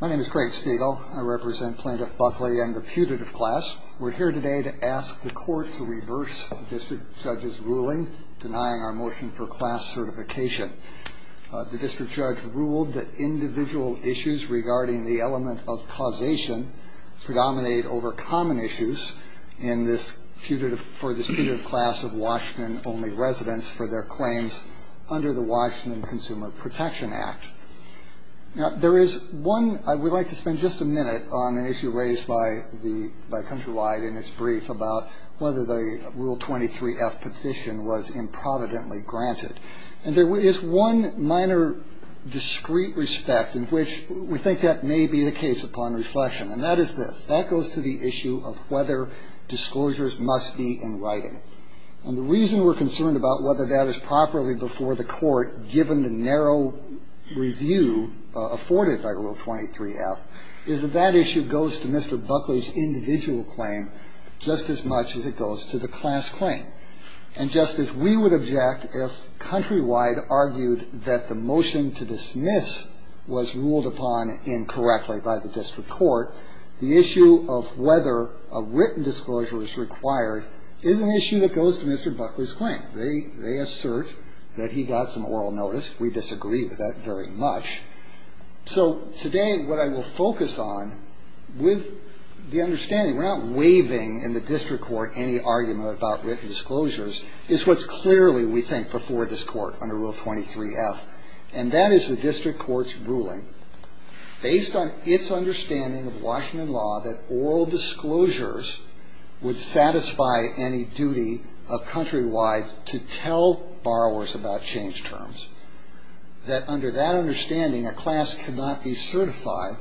My name is Craig Spiegel. I represent Plaintiff Buckley and the putative class. We're here today to ask the Court to reverse the District Judge's ruling denying our motion for class certification. The District Judge ruled that individual issues regarding the element of causation predominate over common issues for the putative class of Washington-only residents for their claims under the Washington Consumer Protection Act. Now, there is one, I would like to spend just a minute on an issue raised by Countrywide in its brief about whether the Rule 23-F petition was improvidently granted. And there is one minor discrete respect in which we think that may be the case upon reflection, and that is this, that goes to the issue of whether disclosures must be in writing. And the reason we're concerned about whether that is properly before the Court, given the narrow review afforded by Rule 23-F, is that that issue goes to Mr. Buckley's individual claim just as much as it goes to the class claim. And, Justice, we would object if Countrywide argued that the motion to dismiss was ruled upon incorrectly by the district court. The issue of whether a written disclosure is required is an issue that goes to Mr. Buckley's claim. They assert that he got some oral notice. We disagree with that very much. So today what I will focus on with the understanding, we're not waiving in the district court any argument about written disclosures, is what's clearly, we think, before this Court under Rule 23-F, and that is the district court's ruling based on its understanding of Washington law that oral disclosures would satisfy any duty of Countrywide to tell borrowers about change terms, that under that understanding a class cannot be certified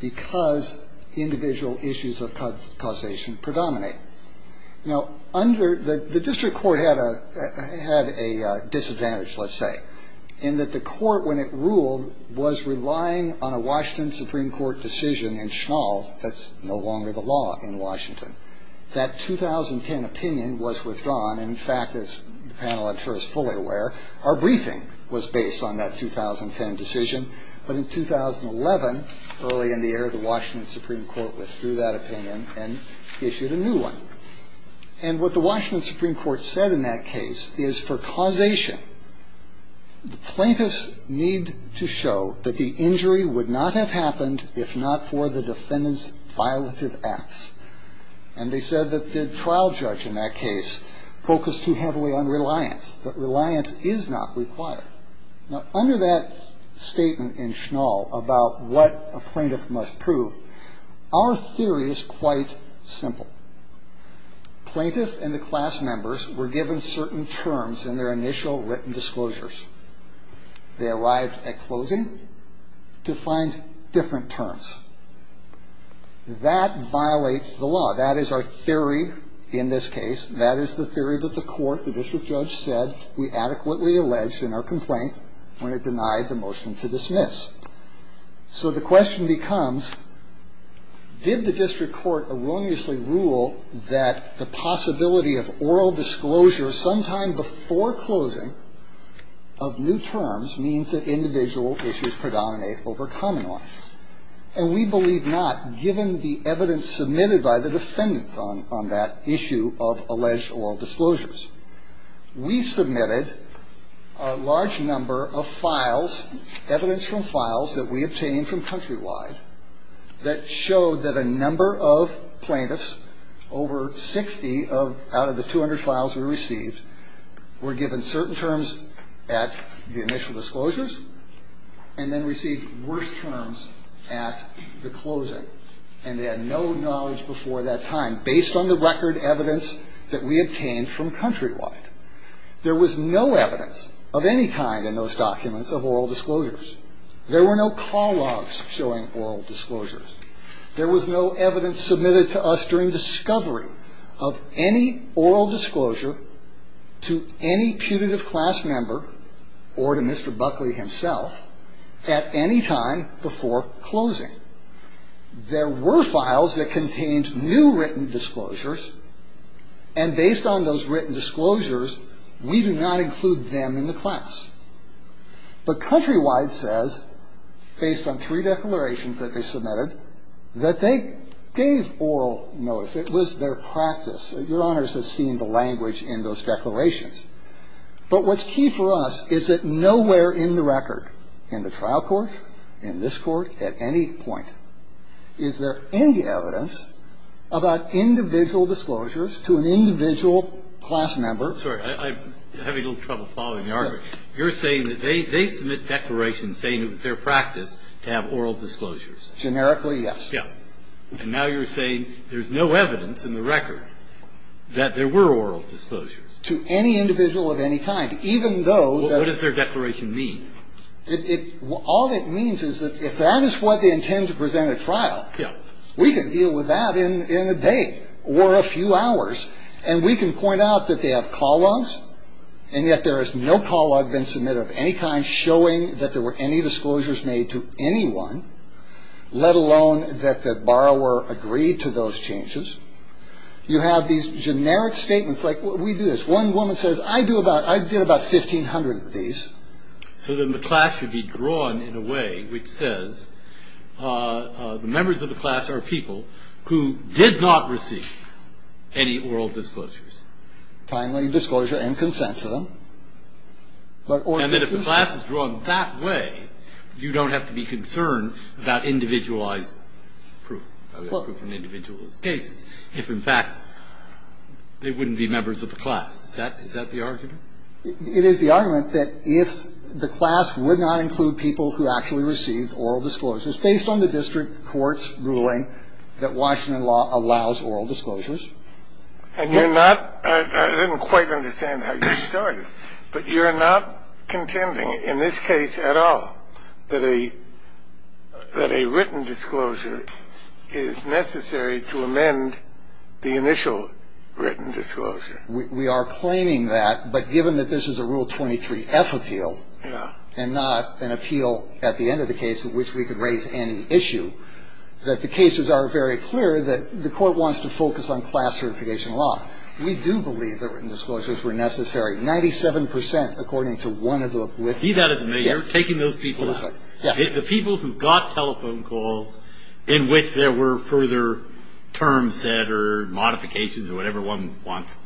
because individual issues of causation predominate. Now, under, the district court had a disadvantage, let's say, in that the court, when it ruled, was relying on a Washington Supreme Court decision in Schnall that's no longer the law in Washington. That 2010 opinion was withdrawn. In fact, as the panel, I'm sure, is fully aware, our briefing was based on that 2010 decision. But in 2011, early in the year, the Washington Supreme Court withdrew that opinion and issued a new one. And what the Washington Supreme Court said in that case is for causation, the plaintiffs need to show that the injury would not have happened if not for the defendant's violative acts. And they said that the trial judge in that case focused too heavily on reliance, that reliance is not required. Now, under that statement in Schnall about what a plaintiff must prove, our theory is quite simple. Plaintiffs and the class members were given certain terms in their initial written disclosures. They arrived at closing to find different terms. That violates the law. That is our theory in this case. That is the theory that the court, the district judge, said we adequately alleged in our complaint when it denied the motion to dismiss. So the question becomes, did the district court erroneously rule that the possibility of oral disclosure sometime before closing of new terms means that individual issues predominate over common ones? And we believe not, given the evidence submitted by the defendants on that issue of alleged oral disclosures. We submitted a large number of files, evidence from files that we obtained from Countrywide, that showed that a number of plaintiffs, over 60 out of the 200 files we received, were given certain terms at the initial disclosures and then received worse terms at the closing. And they had no knowledge before that time, based on the record evidence that we obtained from Countrywide. There was no evidence of any kind in those documents of oral disclosures. There were no call logs showing oral disclosures. There was no evidence submitted to us during discovery of any oral disclosure to any putative class member or to Mr. Buckley himself at any time before closing. There were files that contained new written disclosures, and based on those written disclosures, we do not include them in the class. But Countrywide says, based on three declarations that they submitted, that they gave oral notice. It was their practice. Your Honors have seen the language in those declarations. But what's key for us is that nowhere in the record, in the trial court, in this court, at any point, is there any evidence about individual disclosures to an individual class member. I'm sorry. I'm having a little trouble following the argument. Yes. You're saying that they submit declarations saying it was their practice to have oral disclosures. Generically, yes. Yeah. And now you're saying there's no evidence in the record that there were oral disclosures. To any individual of any kind, even though that's What does their declaration mean? All it means is that if that is what they intend to present at trial, we can deal with that in a day or a few hours. And we can point out that they have call logs, and yet there is no call log been submitted of any kind showing that there were any disclosures made to anyone, let alone that the borrower agreed to those changes. You have these generic statements. Like, we do this. One woman says, I did about 1,500 of these. So then the class should be drawn in a way which says the members of the class are people who did not receive any oral disclosures. Timely disclosure and consent to them. And then if the class is drawn that way, you don't have to be concerned about individualized proof. Proof in individual cases, if in fact they wouldn't be members of the class. Is that the argument? It is the argument that if the class would not include people who actually received oral disclosures, based on the district court's ruling that Washington law allows oral disclosures. And you're not I didn't quite understand how you started. But you're not contending in this case at all that a that a written disclosure is necessary to amend the initial written disclosure. We are claiming that. But given that this is a Rule 23F appeal and not an appeal at the end of the case in which we could raise any issue, that the cases are very clear that the court wants to focus on class certification law. We do believe that written disclosures were necessary. Ninety-seven percent, according to one of the witnesses. You're taking those people aside. Yes. The people who got telephone calls in which there were further terms set or modifications or whatever one wants,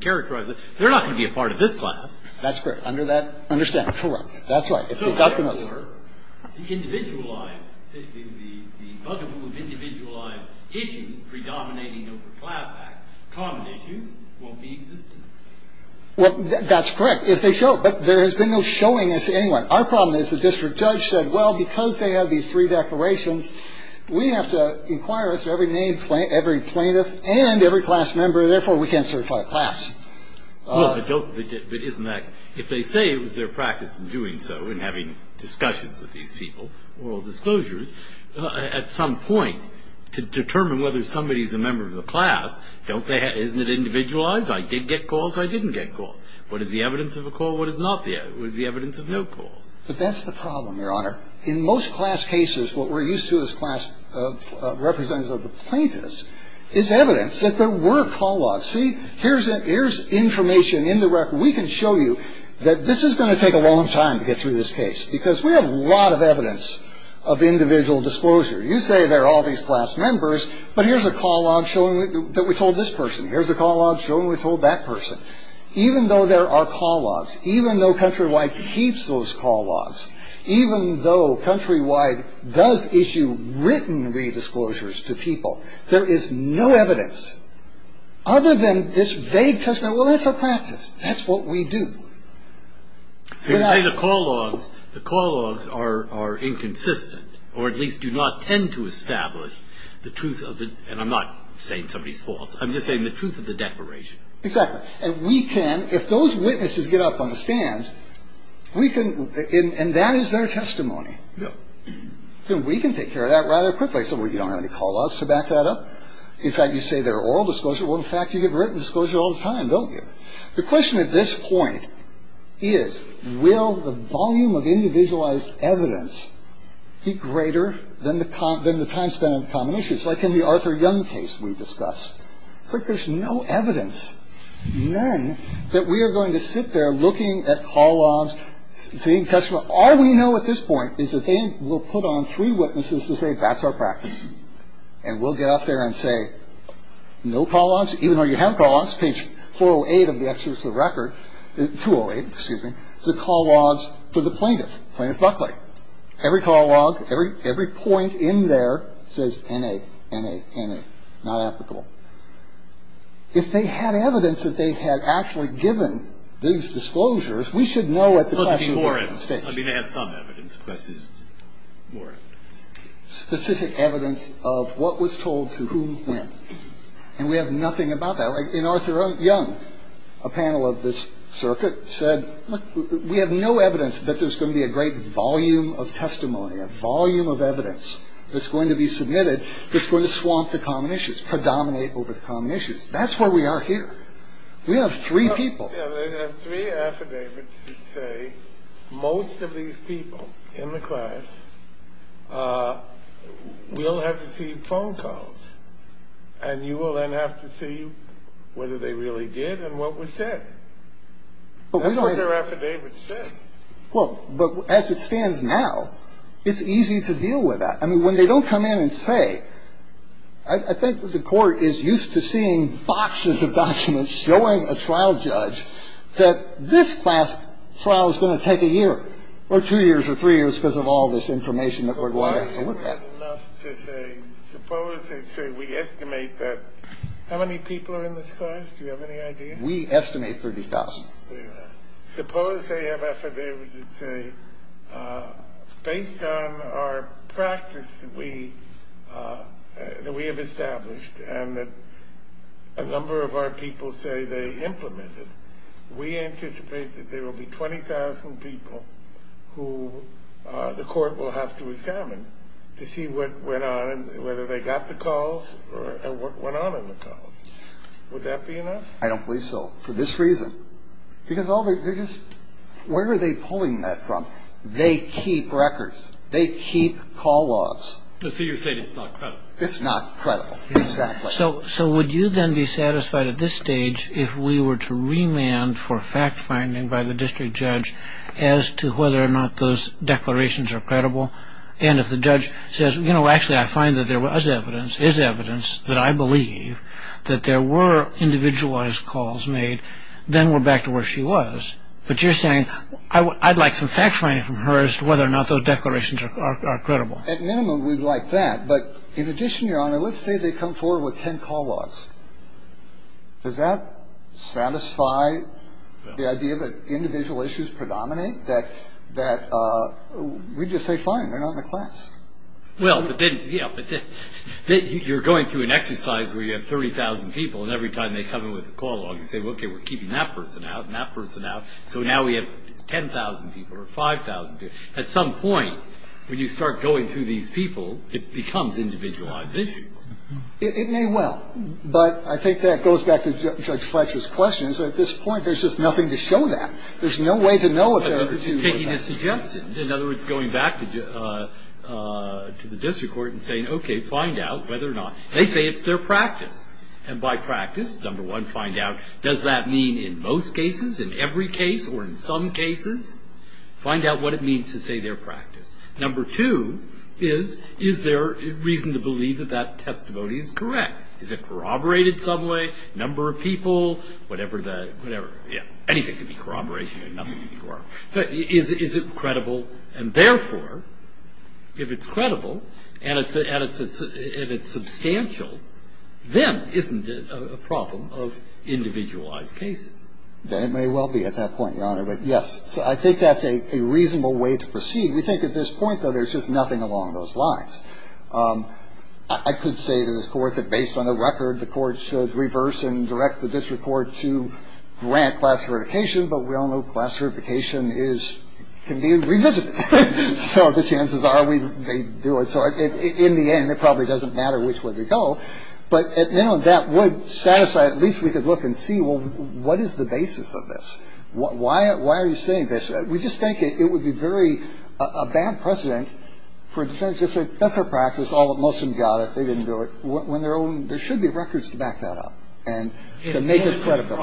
characterize it. They're not going to be a part of this class. That's correct. Under that understanding. Correct. That's right. If they got the notification. The individualized, the bugaboo of individualized issues predominating over class act, common issues, won't be existent. Well, that's correct. If they show it. But there has been no showing this to anyone. Our problem is the district judge said, well, because they have these three declarations, we have to inquire as to every name, every plaintiff and every class member. Therefore, we can't certify a class. Well, but isn't that, if they say it was their practice in doing so, in having discussions with these people, oral disclosures, at some point to determine whether somebody is a member of the class, isn't it individualized? I did get calls. I didn't get calls. What is the evidence of a call? What is not the evidence? What is the evidence of no calls? But that's the problem, Your Honor. In most class cases, what we're used to as class representatives of the plaintiffs is evidence that there were call logs. See, here's information in the record. We can show you that this is going to take a long time to get through this case because we have a lot of evidence of individual disclosure. You say there are all these class members, but here's a call log showing that we told this person. Here's a call log showing we told that person. Even though there are call logs, even though Countrywide keeps those call logs, even though Countrywide does issue written redisclosures to people, there is no evidence other than this vague testimony, well, that's our practice. That's what we do. So you're saying the call logs are inconsistent, or at least do not tend to establish the truth of the, and I'm not saying somebody's false, I'm just saying the truth of the declaration. Exactly. And we can, if those witnesses get up on the stand, we can, and that is their testimony. Then we can take care of that rather quickly. So we don't have any call logs to back that up. In fact, you say there are oral disclosures. Well, in fact, you give written disclosure all the time, don't you? The question at this point is, will the volume of individualized evidence be greater than the time spent on common issues? It's like in the Arthur Young case we discussed. It's like there's no evidence, none, that we are going to sit there looking at call logs, seeing testimony. All we know at this point is that they will put on three witnesses to say, that's our practice. And we'll get up there and say, no call logs, even though you have call logs, page 408 of the Exodus of the Record, 208, excuse me, the call logs for the plaintiff, Plaintiff Buckley. Every call log, every point in there says N.A., N.A., N.A., not applicable. If they had evidence that they had actually given these disclosures, we should know at the question stage. I mean, they have some evidence, but this is more evidence. Specific evidence of what was told to whom when. And we have nothing about that. Like in Arthur Young, a panel of this circuit said, we have no evidence that there's going to be a great volume of testimony, a volume of evidence that's going to be submitted that's going to swamp the common issues, predominate over the common issues. That's where we are here. We have three people. They have three affidavits that say most of these people in the class will have received phone calls. And you will then have to see whether they really did and what was said. That's what their affidavit said. Well, but as it stands now, it's easy to deal with that. I mean, when they don't come in and say, I think that the Court is used to seeing boxes of documents showing a trial judge that this class trial is going to take a year or two years or three years because of all this information that we're going to have to look at. Suppose they say we estimate that. How many people are in this class? Do you have any idea? We estimate 30,000. Suppose they have affidavits that say based on our practice that we have established and that a number of our people say they implement it, we anticipate that there will be 20,000 people who the Court will have to examine to see whether they got the calls and what went on in the calls. Would that be enough? I don't believe so for this reason. Because where are they pulling that from? They keep records. They keep call-offs. So you're saying it's not credible. It's not credible, exactly. So would you then be satisfied at this stage if we were to remand for fact-finding by the district judge as to whether or not those declarations are credible? And if the judge says, you know, actually I find that there was evidence, is evidence that I believe that there were individualized calls made, then we're back to where she was. But you're saying I'd like some fact-finding from her as to whether or not those declarations are credible. At minimum, we'd like that. But in addition, Your Honor, let's say they come forward with 10 call-offs. Does that satisfy the idea that individual issues predominate, that we just say, fine, they're not in the class? Well, but then, yeah, but then you're going through an exercise where you have 30,000 people, and every time they come in with a call-off, you say, okay, we're keeping that person out and that person out. So now we have 10,000 people or 5,000 people. At some point, when you start going through these people, it becomes individualized issues. It may well. But I think that goes back to Judge Fletcher's question, is that at this point there's just nothing to show that. There's no way to know what the other two were about. In other words, going back to the district court and saying, okay, find out whether or not. They say it's their practice. And by practice, number one, find out, does that mean in most cases, in every case, or in some cases? Find out what it means to say their practice. Number two is, is there reason to believe that that testimony is correct? Is it corroborated some way? Number of people? Whatever. Anything can be corroborated. But is it credible? And therefore, if it's credible and it's substantial, then isn't it a problem of individualized cases? Then it may well be at that point, Your Honor. But, yes, I think that's a reasonable way to proceed. We think at this point, though, there's just nothing along those lines. I could say to this Court that based on the record, the Court should reverse and direct the district court to grant class eradication, but we all know class eradication can be revisited. So the chances are we may do it. So in the end, it probably doesn't matter which way they go. But, you know, that would satisfy, at least we could look and see, well, what is the basis of this? Why are you saying this? We just think it would be very bad precedent for a defendant to say, that's their practice, most of them got it, they didn't do it. There should be records to back that up and to make it credible.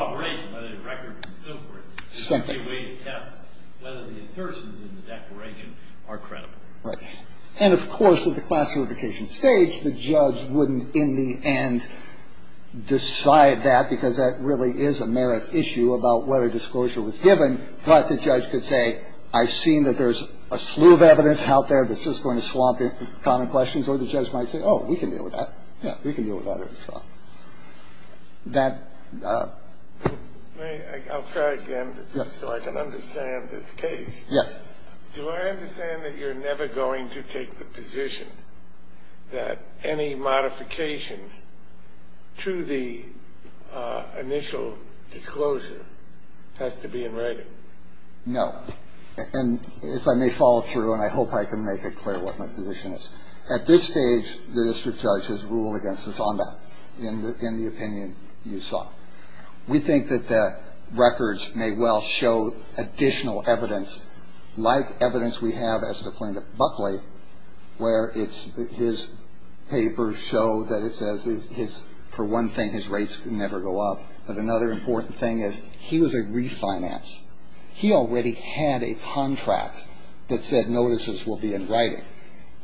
And, of course, at the class eradication stage, the judge wouldn't in the end decide that, because that really is a merits issue about whether disclosure was given. But the judge could say, I've seen that there's a slew of evidence out there that's just going to swamp common questions. Or the judge might say, oh, we can deal with that. Yeah, we can deal with that. They go around saying we've got a problem. I've got a problem. That ---- I'll try again just so I can understand this case. Yes. Do I understand that you're never going to take the position that any modification to the initial disclosure has to be in writing? No. And if I may follow through, and I hope I can make it clear what my position is. At this stage, the district judge has ruled against us on that in the opinion you saw. We think that the records may well show additional evidence, like evidence we have as to Plaintiff Buckley, where his papers show that it says for one thing his rates never go up, but another important thing is he was a refinance. He already had a contract that said notices will be in writing.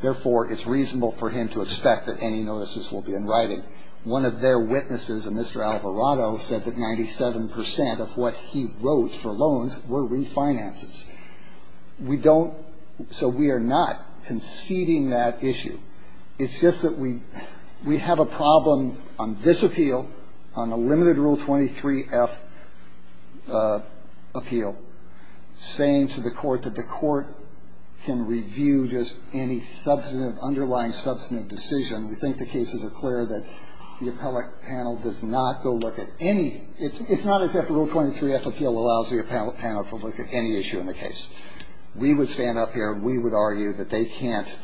Therefore, it's reasonable for him to expect that any notices will be in writing. One of their witnesses, a Mr. Alvarado, said that 97 percent of what he wrote for loans were refinances. We don't ---- so we are not conceding that issue. It's just that we have a problem on this appeal, on the limited Rule 23-F appeal, saying to the Court that the Court can review just any substantive, underlying substantive decision. We think the cases are clear that the appellate panel does not go look at any ---- it's not as if Rule 23-F appeal allows the appellate panel to look at any issue in the case. We would stand up here and we would argue that they can't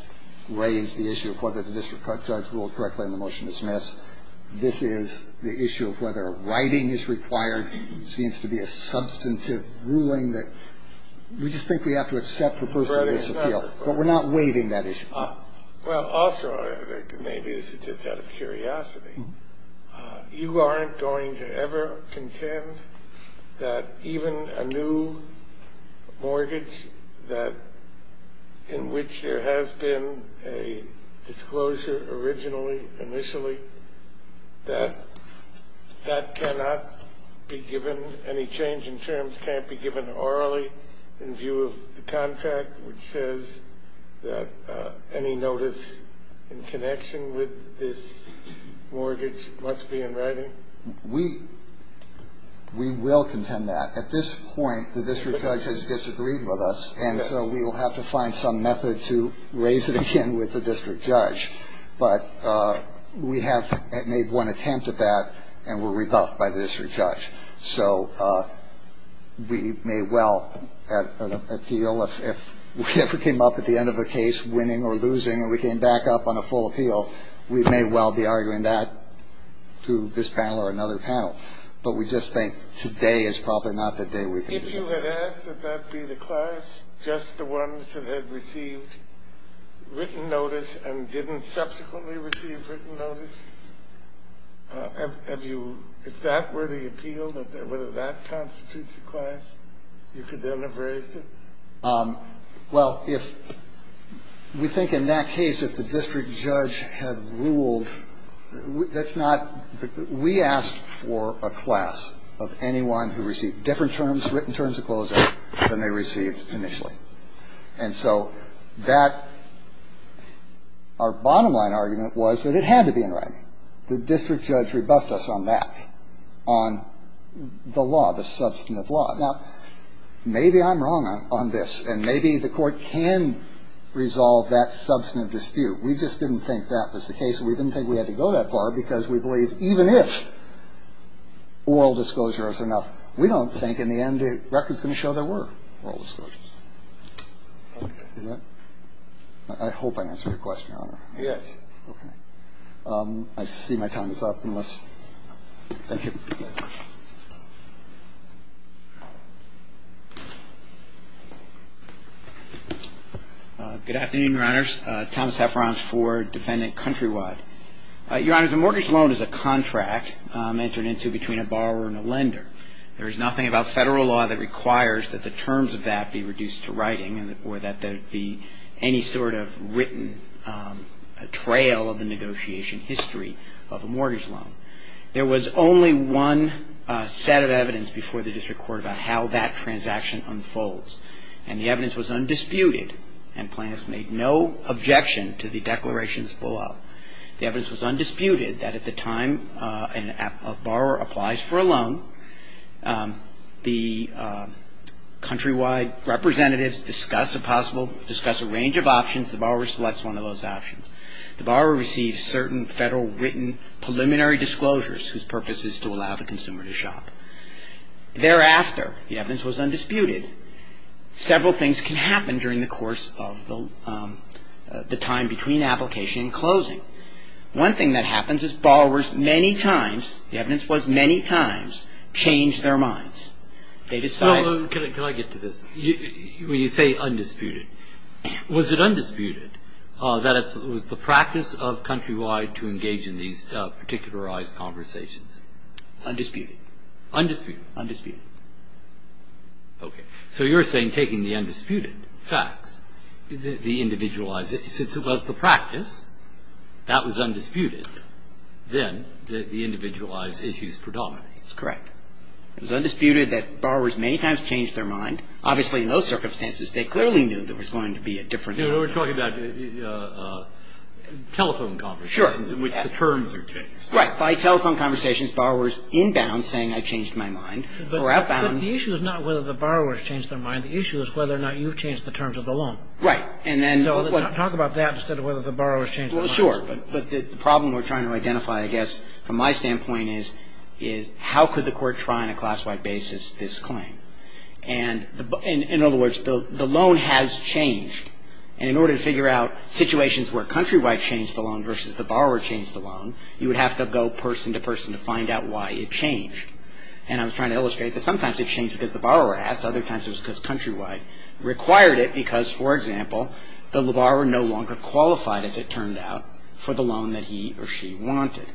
raise the issue of whether the district judge ruled correctly on the motion to dismiss. This is the issue of whether writing is required. There seems to be a substantive ruling that we just think we have to accept for personal disappeal. But we're not waiving that issue. Well, also, maybe this is just out of curiosity, you aren't going to ever contend that even a new mortgage that ---- in which there has been a disclosure originally, initially, that that cannot be given any change in terms, can't be given orally in view of the contract, which says that any notice in connection with this mortgage must be in writing? We will contend that. At this point, the district judge has disagreed with us, and so we will have to find some method to raise it again with the district judge. But we have made one attempt at that and were rebuffed by the district judge. So we may well have an appeal if we ever came up at the end of a case winning or losing and we came back up on a full appeal, we may well be arguing that through this panel or another panel. But we just think today is probably not the day we can do that. If you had asked that that be the class, just the ones that had received written notice and didn't subsequently receive written notice, have you ---- if that were the appeal, whether that constitutes a class, you could then have raised it? Well, if we think in that case that the district judge had ruled, that's not ---- we asked for a class of anyone who received different terms, written terms of closure than they received initially. And so that ---- our bottom line argument was that it had to be in writing. The district judge rebuffed us on that, on the law, the substantive law. Now, maybe I'm wrong on this, and maybe the Court can resolve that substantive dispute. We just didn't think that was the case, and we didn't think we had to go that far because we believe even if oral disclosures are enough, we don't think in the end the record is going to show there were oral disclosures. Okay. Is that ---- I hope I answered your question, Your Honor. Yes. Okay. I see my time is up unless ---- thank you. Good afternoon, Your Honors. Thomas Heffron for Defendant Countrywide. Your Honors, a mortgage loan is a contract entered into between a borrower and a lender. There is nothing about federal law that requires that the terms of that be reduced to writing or that there be any sort of written trail of the negotiation history of a mortgage loan. There was only one set of evidence before the district court about how that transaction unfolds, and the evidence was undisputed, and plaintiffs made no objection to the declarations below. The evidence was undisputed that at the time a borrower applies for a loan, the countrywide representatives discuss a range of options. The borrower selects one of those options. The borrower receives certain federal written preliminary disclosures whose purpose is to allow the consumer to shop. Thereafter, the evidence was undisputed. Several things can happen during the course of the time between application and closing. One thing that happens is borrowers many times, the evidence was many times, change their minds. They decide ---- Well, can I get to this? When you say undisputed, was it undisputed that it was the practice of Countrywide to engage in these particularized conversations? Undisputed. Undisputed. Undisputed. Okay. So you're saying taking the undisputed facts, the individualized ---- since it was the practice, that was undisputed, then the individualized issues predominate. That's correct. It was undisputed that borrowers many times changed their mind. Obviously, in those circumstances, they clearly knew there was going to be a different ---- Sure. Right. By telephone conversations, borrowers inbound saying, I changed my mind, or outbound ---- But the issue is not whether the borrowers changed their mind. The issue is whether or not you've changed the terms of the loan. Right. And then ---- Talk about that instead of whether the borrowers changed their minds. Well, sure. But the problem we're trying to identify, I guess, from my standpoint, is how could the court try on a class-wide basis this claim? And in other words, the loan has changed. And in order to figure out situations where Countrywide changed the loan versus the borrower changed the loan, you would have to go person to person to find out why it changed. And I was trying to illustrate that sometimes it changed because the borrower asked. Other times it was because Countrywide required it because, for example, the borrower no longer qualified, as it turned out, for the loan that he or she wanted.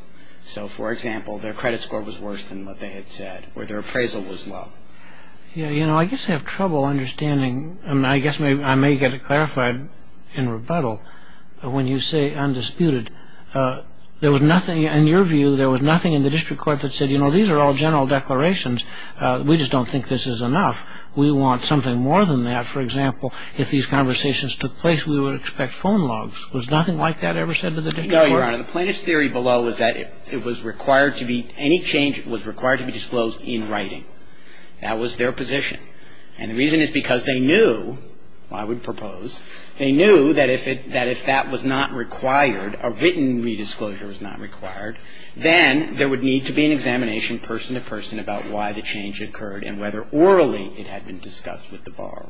So, for example, their credit score was worse than what they had said or their appraisal was low. Yeah. You know, I guess I have trouble understanding. I guess I may get it clarified in rebuttal. When you say undisputed, there was nothing, in your view, there was nothing in the district court that said, you know, these are all general declarations. We just don't think this is enough. We want something more than that. For example, if these conversations took place, we would expect phone logs. Was nothing like that ever said to the district court? No, Your Honor. The plaintiff's theory below was that it was required to be ---- any change was required to be disclosed in writing. That was their position. And the reason is because they knew, I would propose, they knew that if that was not required, a written re-disclosure was not required, then there would need to be an examination, person to person, about why the change occurred and whether orally it had been discussed with the borrower.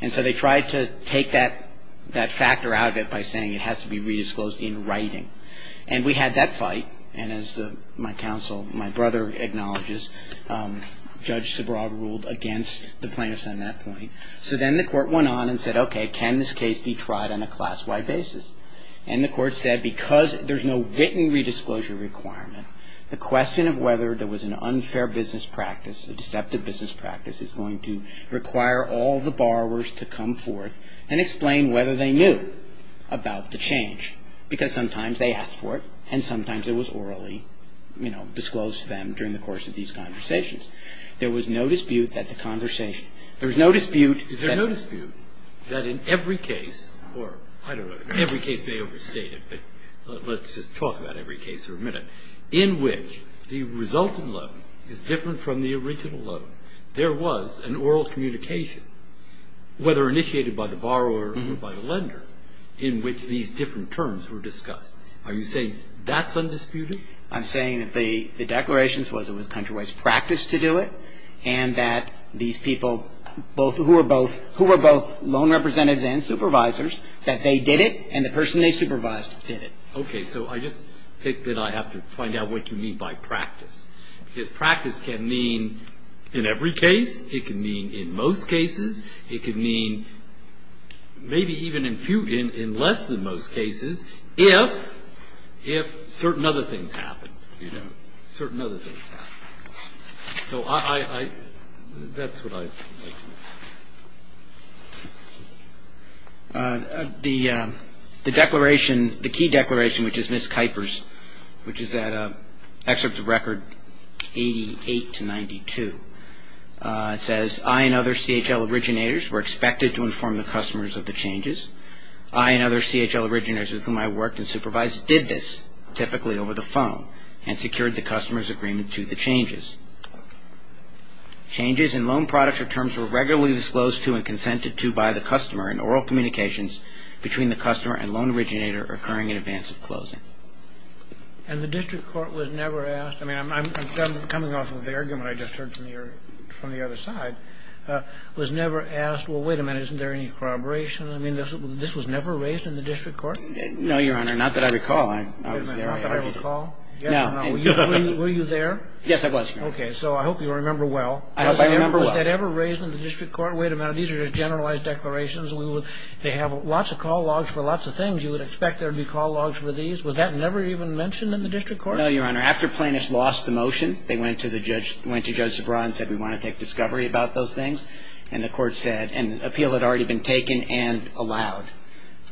And so they tried to take that factor out of it by saying it has to be re-disclosed in writing. And we had that fight. And as my counsel, my brother acknowledges, Judge Sobroad ruled against the plaintiffs on that point. So then the court went on and said, okay, can this case be tried on a class-wide basis? And the court said because there's no written re-disclosure requirement, the question of whether there was an unfair business practice, a deceptive business practice is going to require all the borrowers to come forth and explain whether they knew about the change. Because sometimes they asked for it, and sometimes it was orally, you know, disclosed to them during the course of these conversations. There was no dispute that the conversation, there was no dispute that Is there no dispute that in every case, or I don't know, every case may overstate it, but let's just talk about every case for a minute, in which the resulting loan is different from the original loan, there was an oral communication, whether initiated by the borrower or by the lender, in which these different terms were discussed. Are you saying that's undisputed? I'm saying that the declarations was it was country-wise practice to do it, and that these people who were both loan representatives and supervisors, that they did it, and the person they supervised did it. Okay. So I just think that I have to find out what you mean by practice. Because practice can mean in every case. It can mean in most cases. It can mean maybe even in less than most cases if certain other things happen, you know, certain other things happen. So that's what I think. The declaration, the key declaration, which is Ms. Kuyper's, which is that excerpt of record 88 to 92. It says, I and other CHL originators were expected to inform the customers of the changes. I and other CHL originators with whom I worked and supervised did this, typically over the phone, and secured the customer's agreement to the changes. Changes in loan products or terms were regularly disclosed to and consented to by the customer in oral communications between the customer and loan originator occurring in advance of closing. And the district court was never asked. I mean, I'm coming off of the argument I just heard from the other side. Was never asked, well, wait a minute, isn't there any corroboration? I mean, this was never raised in the district court? No, Your Honor. Not that I recall. Not that I recall? No. Were you there? Yes, I was, Your Honor. Okay. So I hope you remember well. I hope I remember well. Was that ever raised in the district court? Wait a minute. These are just generalized declarations. They have lots of call logs for lots of things. You would expect there would be call logs for these. Was that never even mentioned in the district court? No, Your Honor. After plaintiffs lost the motion, they went to Judge Zabra and said we want to take discovery about those things. And the court said an appeal had already been taken and allowed.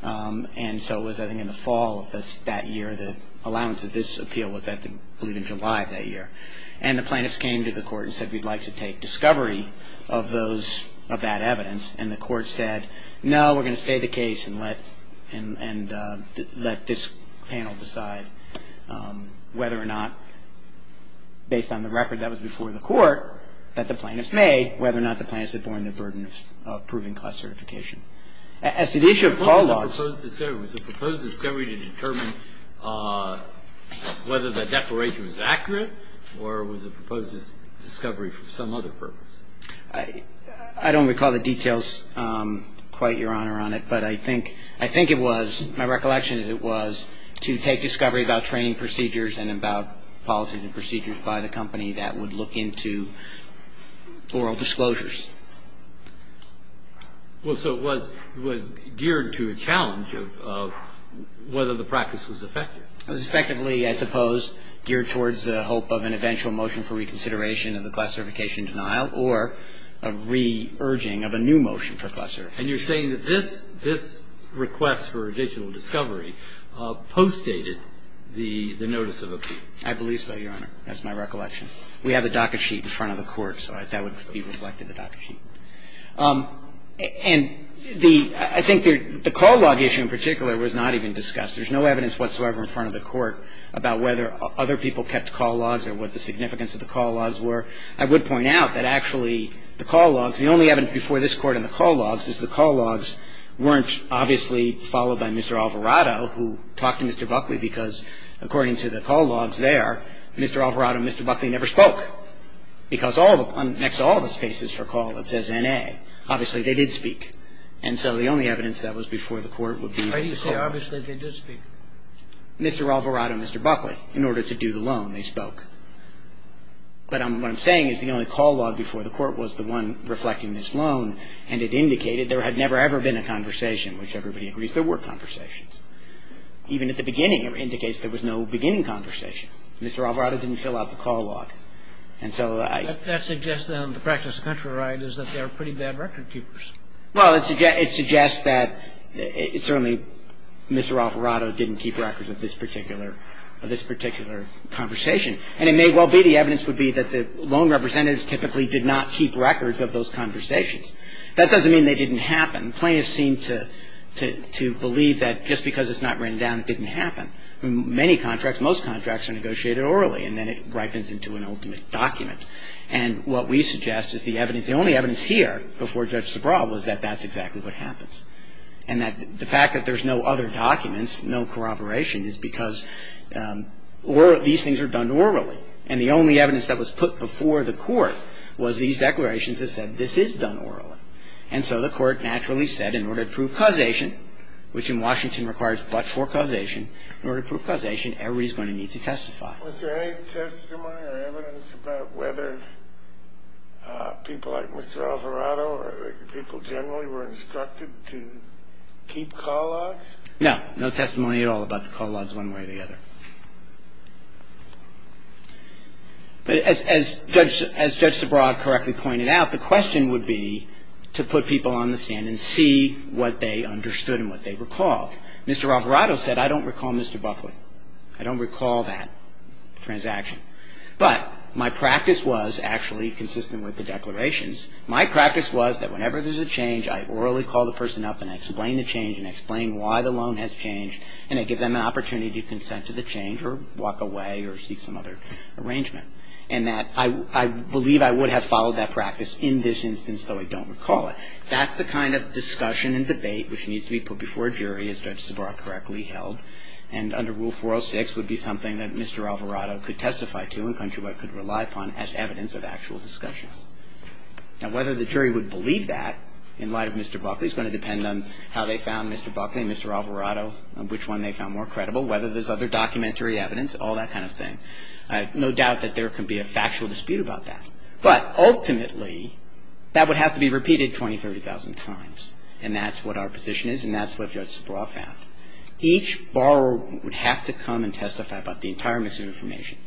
And so it was, I think, in the fall of that year, the allowance of this appeal was, I believe, in July of that year. And the plaintiffs came to the court and said we'd like to take discovery of that evidence. And the court said, no, we're going to stay the case and let this panel decide whether or not, based on the record that was before the court, that the plaintiffs may, whether or not the plaintiffs had borne the burden of proving class certification. As to the issue of call logs. Was the proposed discovery to determine whether the declaration was accurate or was the proposed discovery for some other purpose? I don't recall the details quite, Your Honor, on it. But I think it was, my recollection is it was to take discovery about training procedures and about policies and procedures by the company that would look into oral disclosures. Well, so it was geared to a challenge of whether the practice was effective. It was effectively, I suppose, geared towards the hope of an eventual motion for reconsideration of the class certification denial or a re-urging of a new motion for class certification. And you're saying that this, this request for additional discovery postdated the notice of appeal. I believe so, Your Honor. That's my recollection. We have the docket sheet in front of the Court, so that would be reflected in the docket sheet. And the, I think the call log issue in particular was not even discussed. There's no evidence whatsoever in front of the Court about whether other people kept call logs or what the significance of the call logs were. I would point out that actually the call logs, the only evidence before this Court in the call logs is the call logs weren't obviously followed by Mr. Alvarado, who talked to Mr. Buckley, because according to the call logs there, Mr. Alvarado and Mr. Buckley never spoke. Because all the, next to all the spaces for call, it says N.A. Obviously, they did speak. And so the only evidence that was before the Court would be the call logs. Why do you say obviously they did speak? Mr. Alvarado and Mr. Buckley, in order to do the loan, they spoke. But what I'm saying is the only call log before the Court was the one reflecting this loan, and it indicated there had never, ever been a conversation, which everybody agrees there were conversations. Even at the beginning, it indicates there was no beginning conversation. Mr. Alvarado didn't fill out the call log. And so I ---- That suggests, then, the practice of country right is that they are pretty bad record keepers. Well, it suggests that certainly Mr. Alvarado didn't keep records of this particular conversation. And it may well be the evidence would be that the loan representatives typically did not keep records of those conversations. That doesn't mean they didn't happen. Plaintiffs seem to believe that just because it's not written down, it didn't happen. Many contracts, most contracts are negotiated orally, and then it ripens into an ultimate document. And what we suggest is the evidence ---- the only evidence here before Judge Sobral was that that's exactly what happens, and that the fact that there's no other documents, no corroboration, is because these things are done orally. And the only evidence that was put before the Court was these declarations that said this is done orally. And so the Court naturally said in order to prove causation, which in Washington requires but for causation, in order to prove causation, everybody's going to need to testify. Was there any testimony or evidence about whether people like Mr. Alvarado or people generally were instructed to keep call logs? No. No testimony at all about the call logs one way or the other. But as Judge Sobral correctly pointed out, the question would be to put people on the stand and see what they understood and what they recalled. Mr. Alvarado said, I don't recall Mr. Buckley. I don't recall that transaction. But my practice was actually consistent with the declarations. My practice was that whenever there's a change, I orally call the person up and explain the change and explain why the loan has changed and I give them an opportunity to consent to the change or walk away or seek some other arrangement. And that I believe I would have followed that practice in this instance, though I don't recall it. That's the kind of discussion and debate which needs to be put before a jury, as Judge Sobral correctly held. And under Rule 406 would be something that Mr. Alvarado could testify to and Countryweb could rely upon as evidence of actual discussions. Now, whether the jury would believe that in light of Mr. Buckley is going to depend on how they found Mr. Buckley and Mr. Alvarado and which one they found more credible, whether there's other documentary evidence, all that kind of thing. I have no doubt that there could be a factual dispute about that. But ultimately, that would have to be repeated 20,000, 30,000 times. And that's what our position is and that's what Judge Sobral found. Each borrower would have to come and testify about the entire mix of information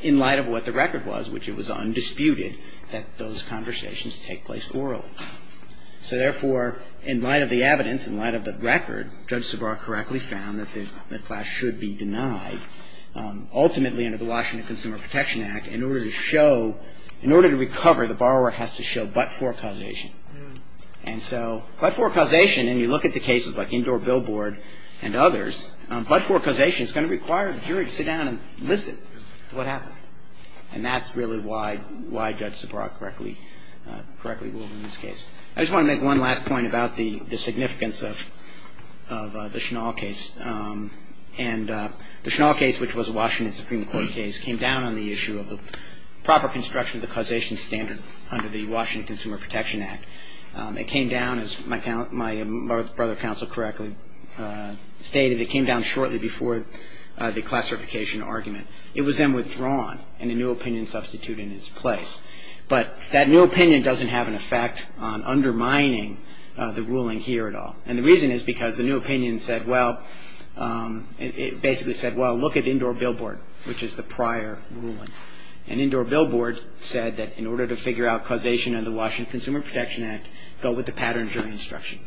in light of what the record was, which it was undisputed that those conversations take place orally. So therefore, in light of the evidence, in light of the record, Judge Sobral correctly found that the class should be denied. Ultimately, under the Washington Consumer Protection Act, in order to show, in order to recover, the borrower has to show but-for causation. And so, but-for causation, and you look at the cases like Indoor Billboard and others, but-for causation is going to require a jury to sit down and listen to what happened. And that's really why Judge Sobral correctly ruled in this case. I just want to make one last point about the significance of the Schnall case. And the Schnall case, which was a Washington Supreme Court case, came down on the issue of the proper construction of the causation standard under the Washington Consumer Protection Act. It came down, as my brother counsel correctly stated, it came down shortly before the classification argument. It was then withdrawn, and a new opinion substituted in its place. But that new opinion doesn't have an effect on undermining the ruling here at all. And the reason is because the new opinion said, well, it basically said, well, look at Indoor Billboard, which is the prior ruling. And Indoor Billboard said that in order to figure out causation under the Washington Consumer Protection Act, go with the pattern jury instruction.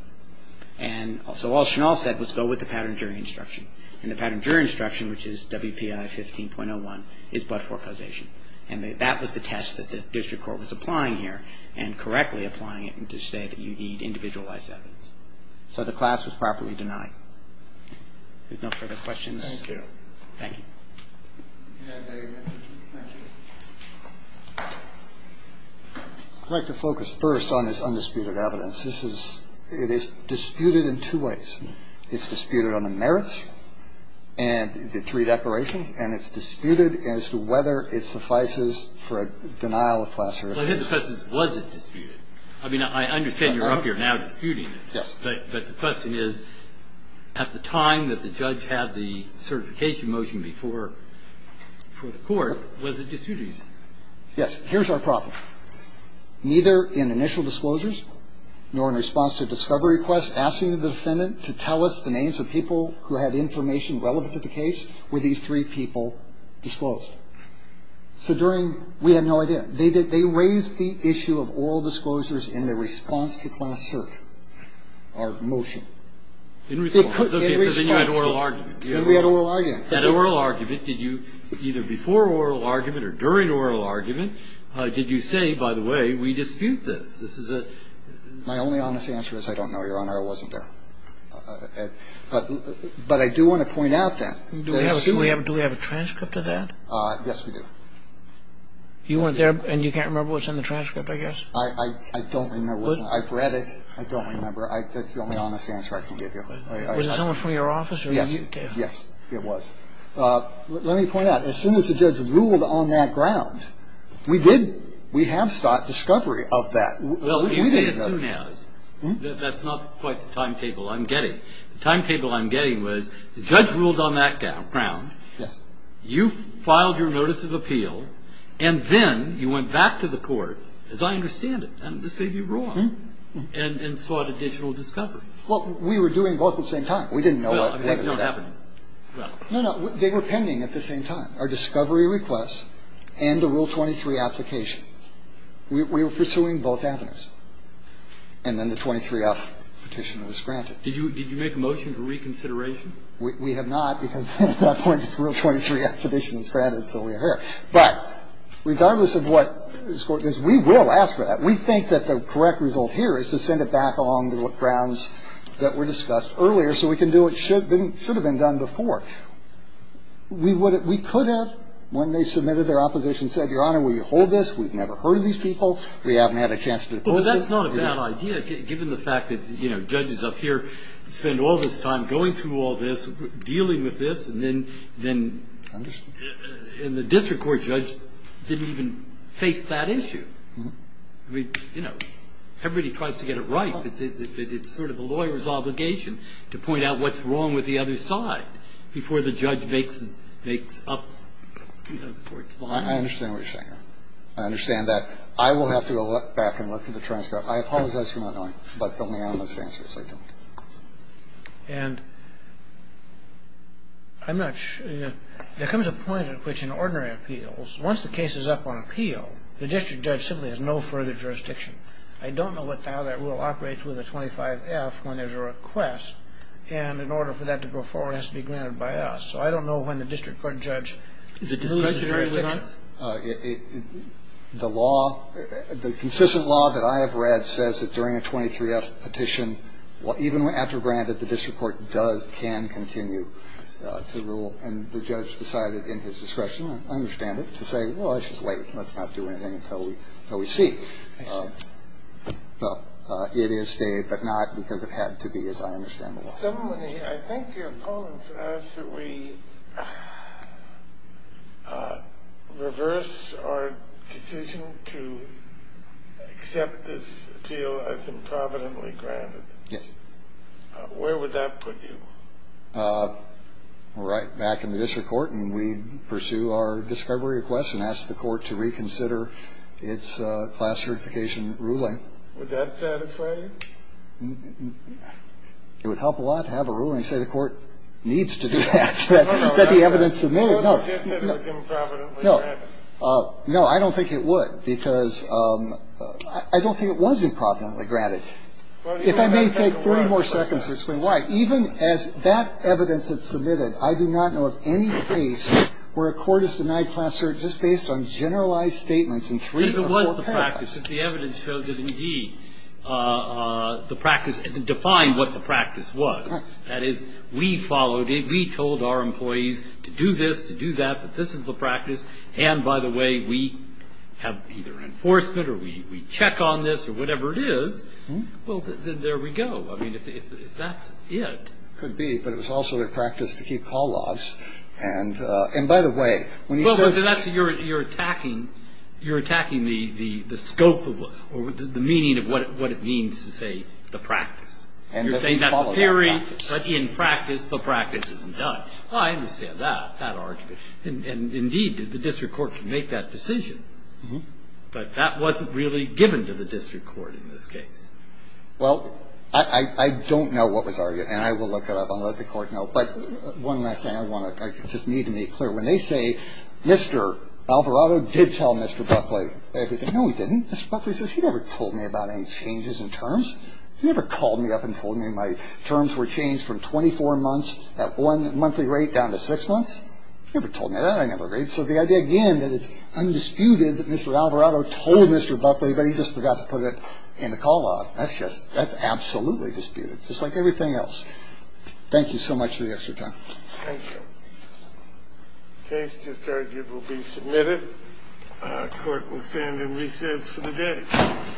And so all Schnall said was go with the pattern jury instruction. And the pattern jury instruction, which is WPI 15.01, is but-for causation. And that was the test that the district court was applying here, and correctly applying it to say that you need individualized evidence. So the class was properly denied. If there's no further questions. Thank you. Thank you. I'd like to focus first on this undisputed evidence. This is ‑‑ it is disputed in two ways. It's disputed on the merits and the three declarations, and it's disputed as to whether it suffices for a denial of class or ‑‑ Well, I think the question is, was it disputed? I mean, I understand you're up here now disputing it. Yes. But the question is, at the time that the judge had the certification motion before the court, was it disputed? Yes. Here's our problem. Neither in initial disclosures nor in response to discovery requests asking the defendant to tell us the names of people who had information relevant to the case were these three people disclosed. So during ‑‑ we had no idea. They raised the issue of oral disclosures in their response to class search. Our motion. In response. Okay. So then you had oral argument. We had oral argument. You had oral argument. Did you, either before oral argument or during oral argument, did you say, by the way, we dispute this? This is a ‑‑ My only honest answer is I don't know, Your Honor. It wasn't there. But I do want to point out that. Do we have a transcript of that? Yes, we do. You went there, and you can't remember what's in the transcript, I guess? I don't remember what's in it. I've read it. I don't remember. That's the only honest answer I can give you. Was it someone from your office? Yes. Yes. It was. Let me point out, as soon as the judge ruled on that ground, we did ‑‑ we have sought discovery of that. We didn't know. Well, let me say as soon as. That's not quite the timetable I'm getting. The timetable I'm getting was the judge ruled on that ground. Yes. You filed your notice of appeal, and then you went back to the court, as I understand it. And this may be wrong. And sought a digital discovery. Well, we were doing both at the same time. We didn't know. Well, I mean, that's not happening. No, no. They were pending at the same time, our discovery request and the Rule 23 application. We were pursuing both avenues. And then the 23-F petition was granted. Did you make a motion for reconsideration? We have not, because at that point the Rule 23-F petition was granted, so we heard. But regardless of what the court does, we will ask for that. We think that the correct result here is to send it back along the grounds that were discussed earlier so we can do what should have been done before. We could have, when they submitted their opposition, said, Your Honor, will you hold this? We've never heard of these people. We haven't had a chance to do that. But that's not a bad idea, given the fact that, you know, judges up here spend all this time going through all this, dealing with this, and then the district court judge didn't even face that issue. I mean, you know, everybody tries to get it right, but it's sort of the lawyer's obligation to point out what's wrong with the other side before the judge makes up, you know, the court's mind. I understand what you're saying, Your Honor. I understand that. I will have to go back and look at the transcript. I apologize for not knowing, but don't get me out of my senses. I don't. And I'm not sure. There comes a point at which in ordinary appeals, once the case is up on appeal, the district judge simply has no further jurisdiction. I don't know what the hell that rule operates with a 25-F when there's a request, and in order for that to go forward, it has to be granted by us. So I don't know when the district court judge approves the jurisdiction. Is it discretionary, Your Honor? The law, the consistent law that I have read says that during a 23-F petition, even after granted, the district court can continue to rule, and the judge decided in his discretion, I understand it, to say, well, it's just late. Let's not do anything until we see. Well, it is stayed, but not because it had to be, as I understand the law. I think your opponents ask that we reverse our decision to accept this appeal as improvidently granted. Yes. Where would that put you? Right back in the district court, and we pursue our discovery request and ask the court to reconsider its class certification ruling. Would that satisfy you? It would help a lot to have a ruling say the court needs to do that, that the evidence submitted. No, I don't think it would, because I don't think it was improvidently granted. If I may take three more seconds to explain why. Even as that evidence is submitted, I do not know of any case where a court has denied class cert just based on generalized statements in three or four paragraphs. It was the practice. If the evidence showed that, indeed, the practice defined what the practice was, that is, we followed it, we told our employees to do this, to do that, that this is the practice, and, by the way, we have either enforcement or we check on this or whatever it is, well, then there we go. I mean, if that's it. Could be, but it was also the practice to keep call logs, and, by the way, when he says Well, that's what you're attacking. You're attacking the scope or the meaning of what it means to say the practice. You're saying that's a theory, but in practice the practice isn't done. I understand that, that argument. And, indeed, the district court can make that decision, but that wasn't really given to the district court in this case. Well, I don't know what was argued, and I will look it up. I'll let the court know. But one last thing I want to just need to make clear. When they say Mr. Alvarado did tell Mr. Buckley everything, no, he didn't. Mr. Buckley says he never told me about any changes in terms. He never called me up and told me my terms were changed from 24 months at one monthly rate down to six months. He never told me that. I never agreed. So the idea, again, that it's undisputed that Mr. Alvarado told Mr. Buckley, but he just forgot to put it in the call log, that's just, that's absolutely disputed. Just like everything else. Thank you so much for the extra time. Thank you. Case just argued will be submitted. Court will stand in recess for the day. All rise for the recess. Thank you. Thank you. Thank you.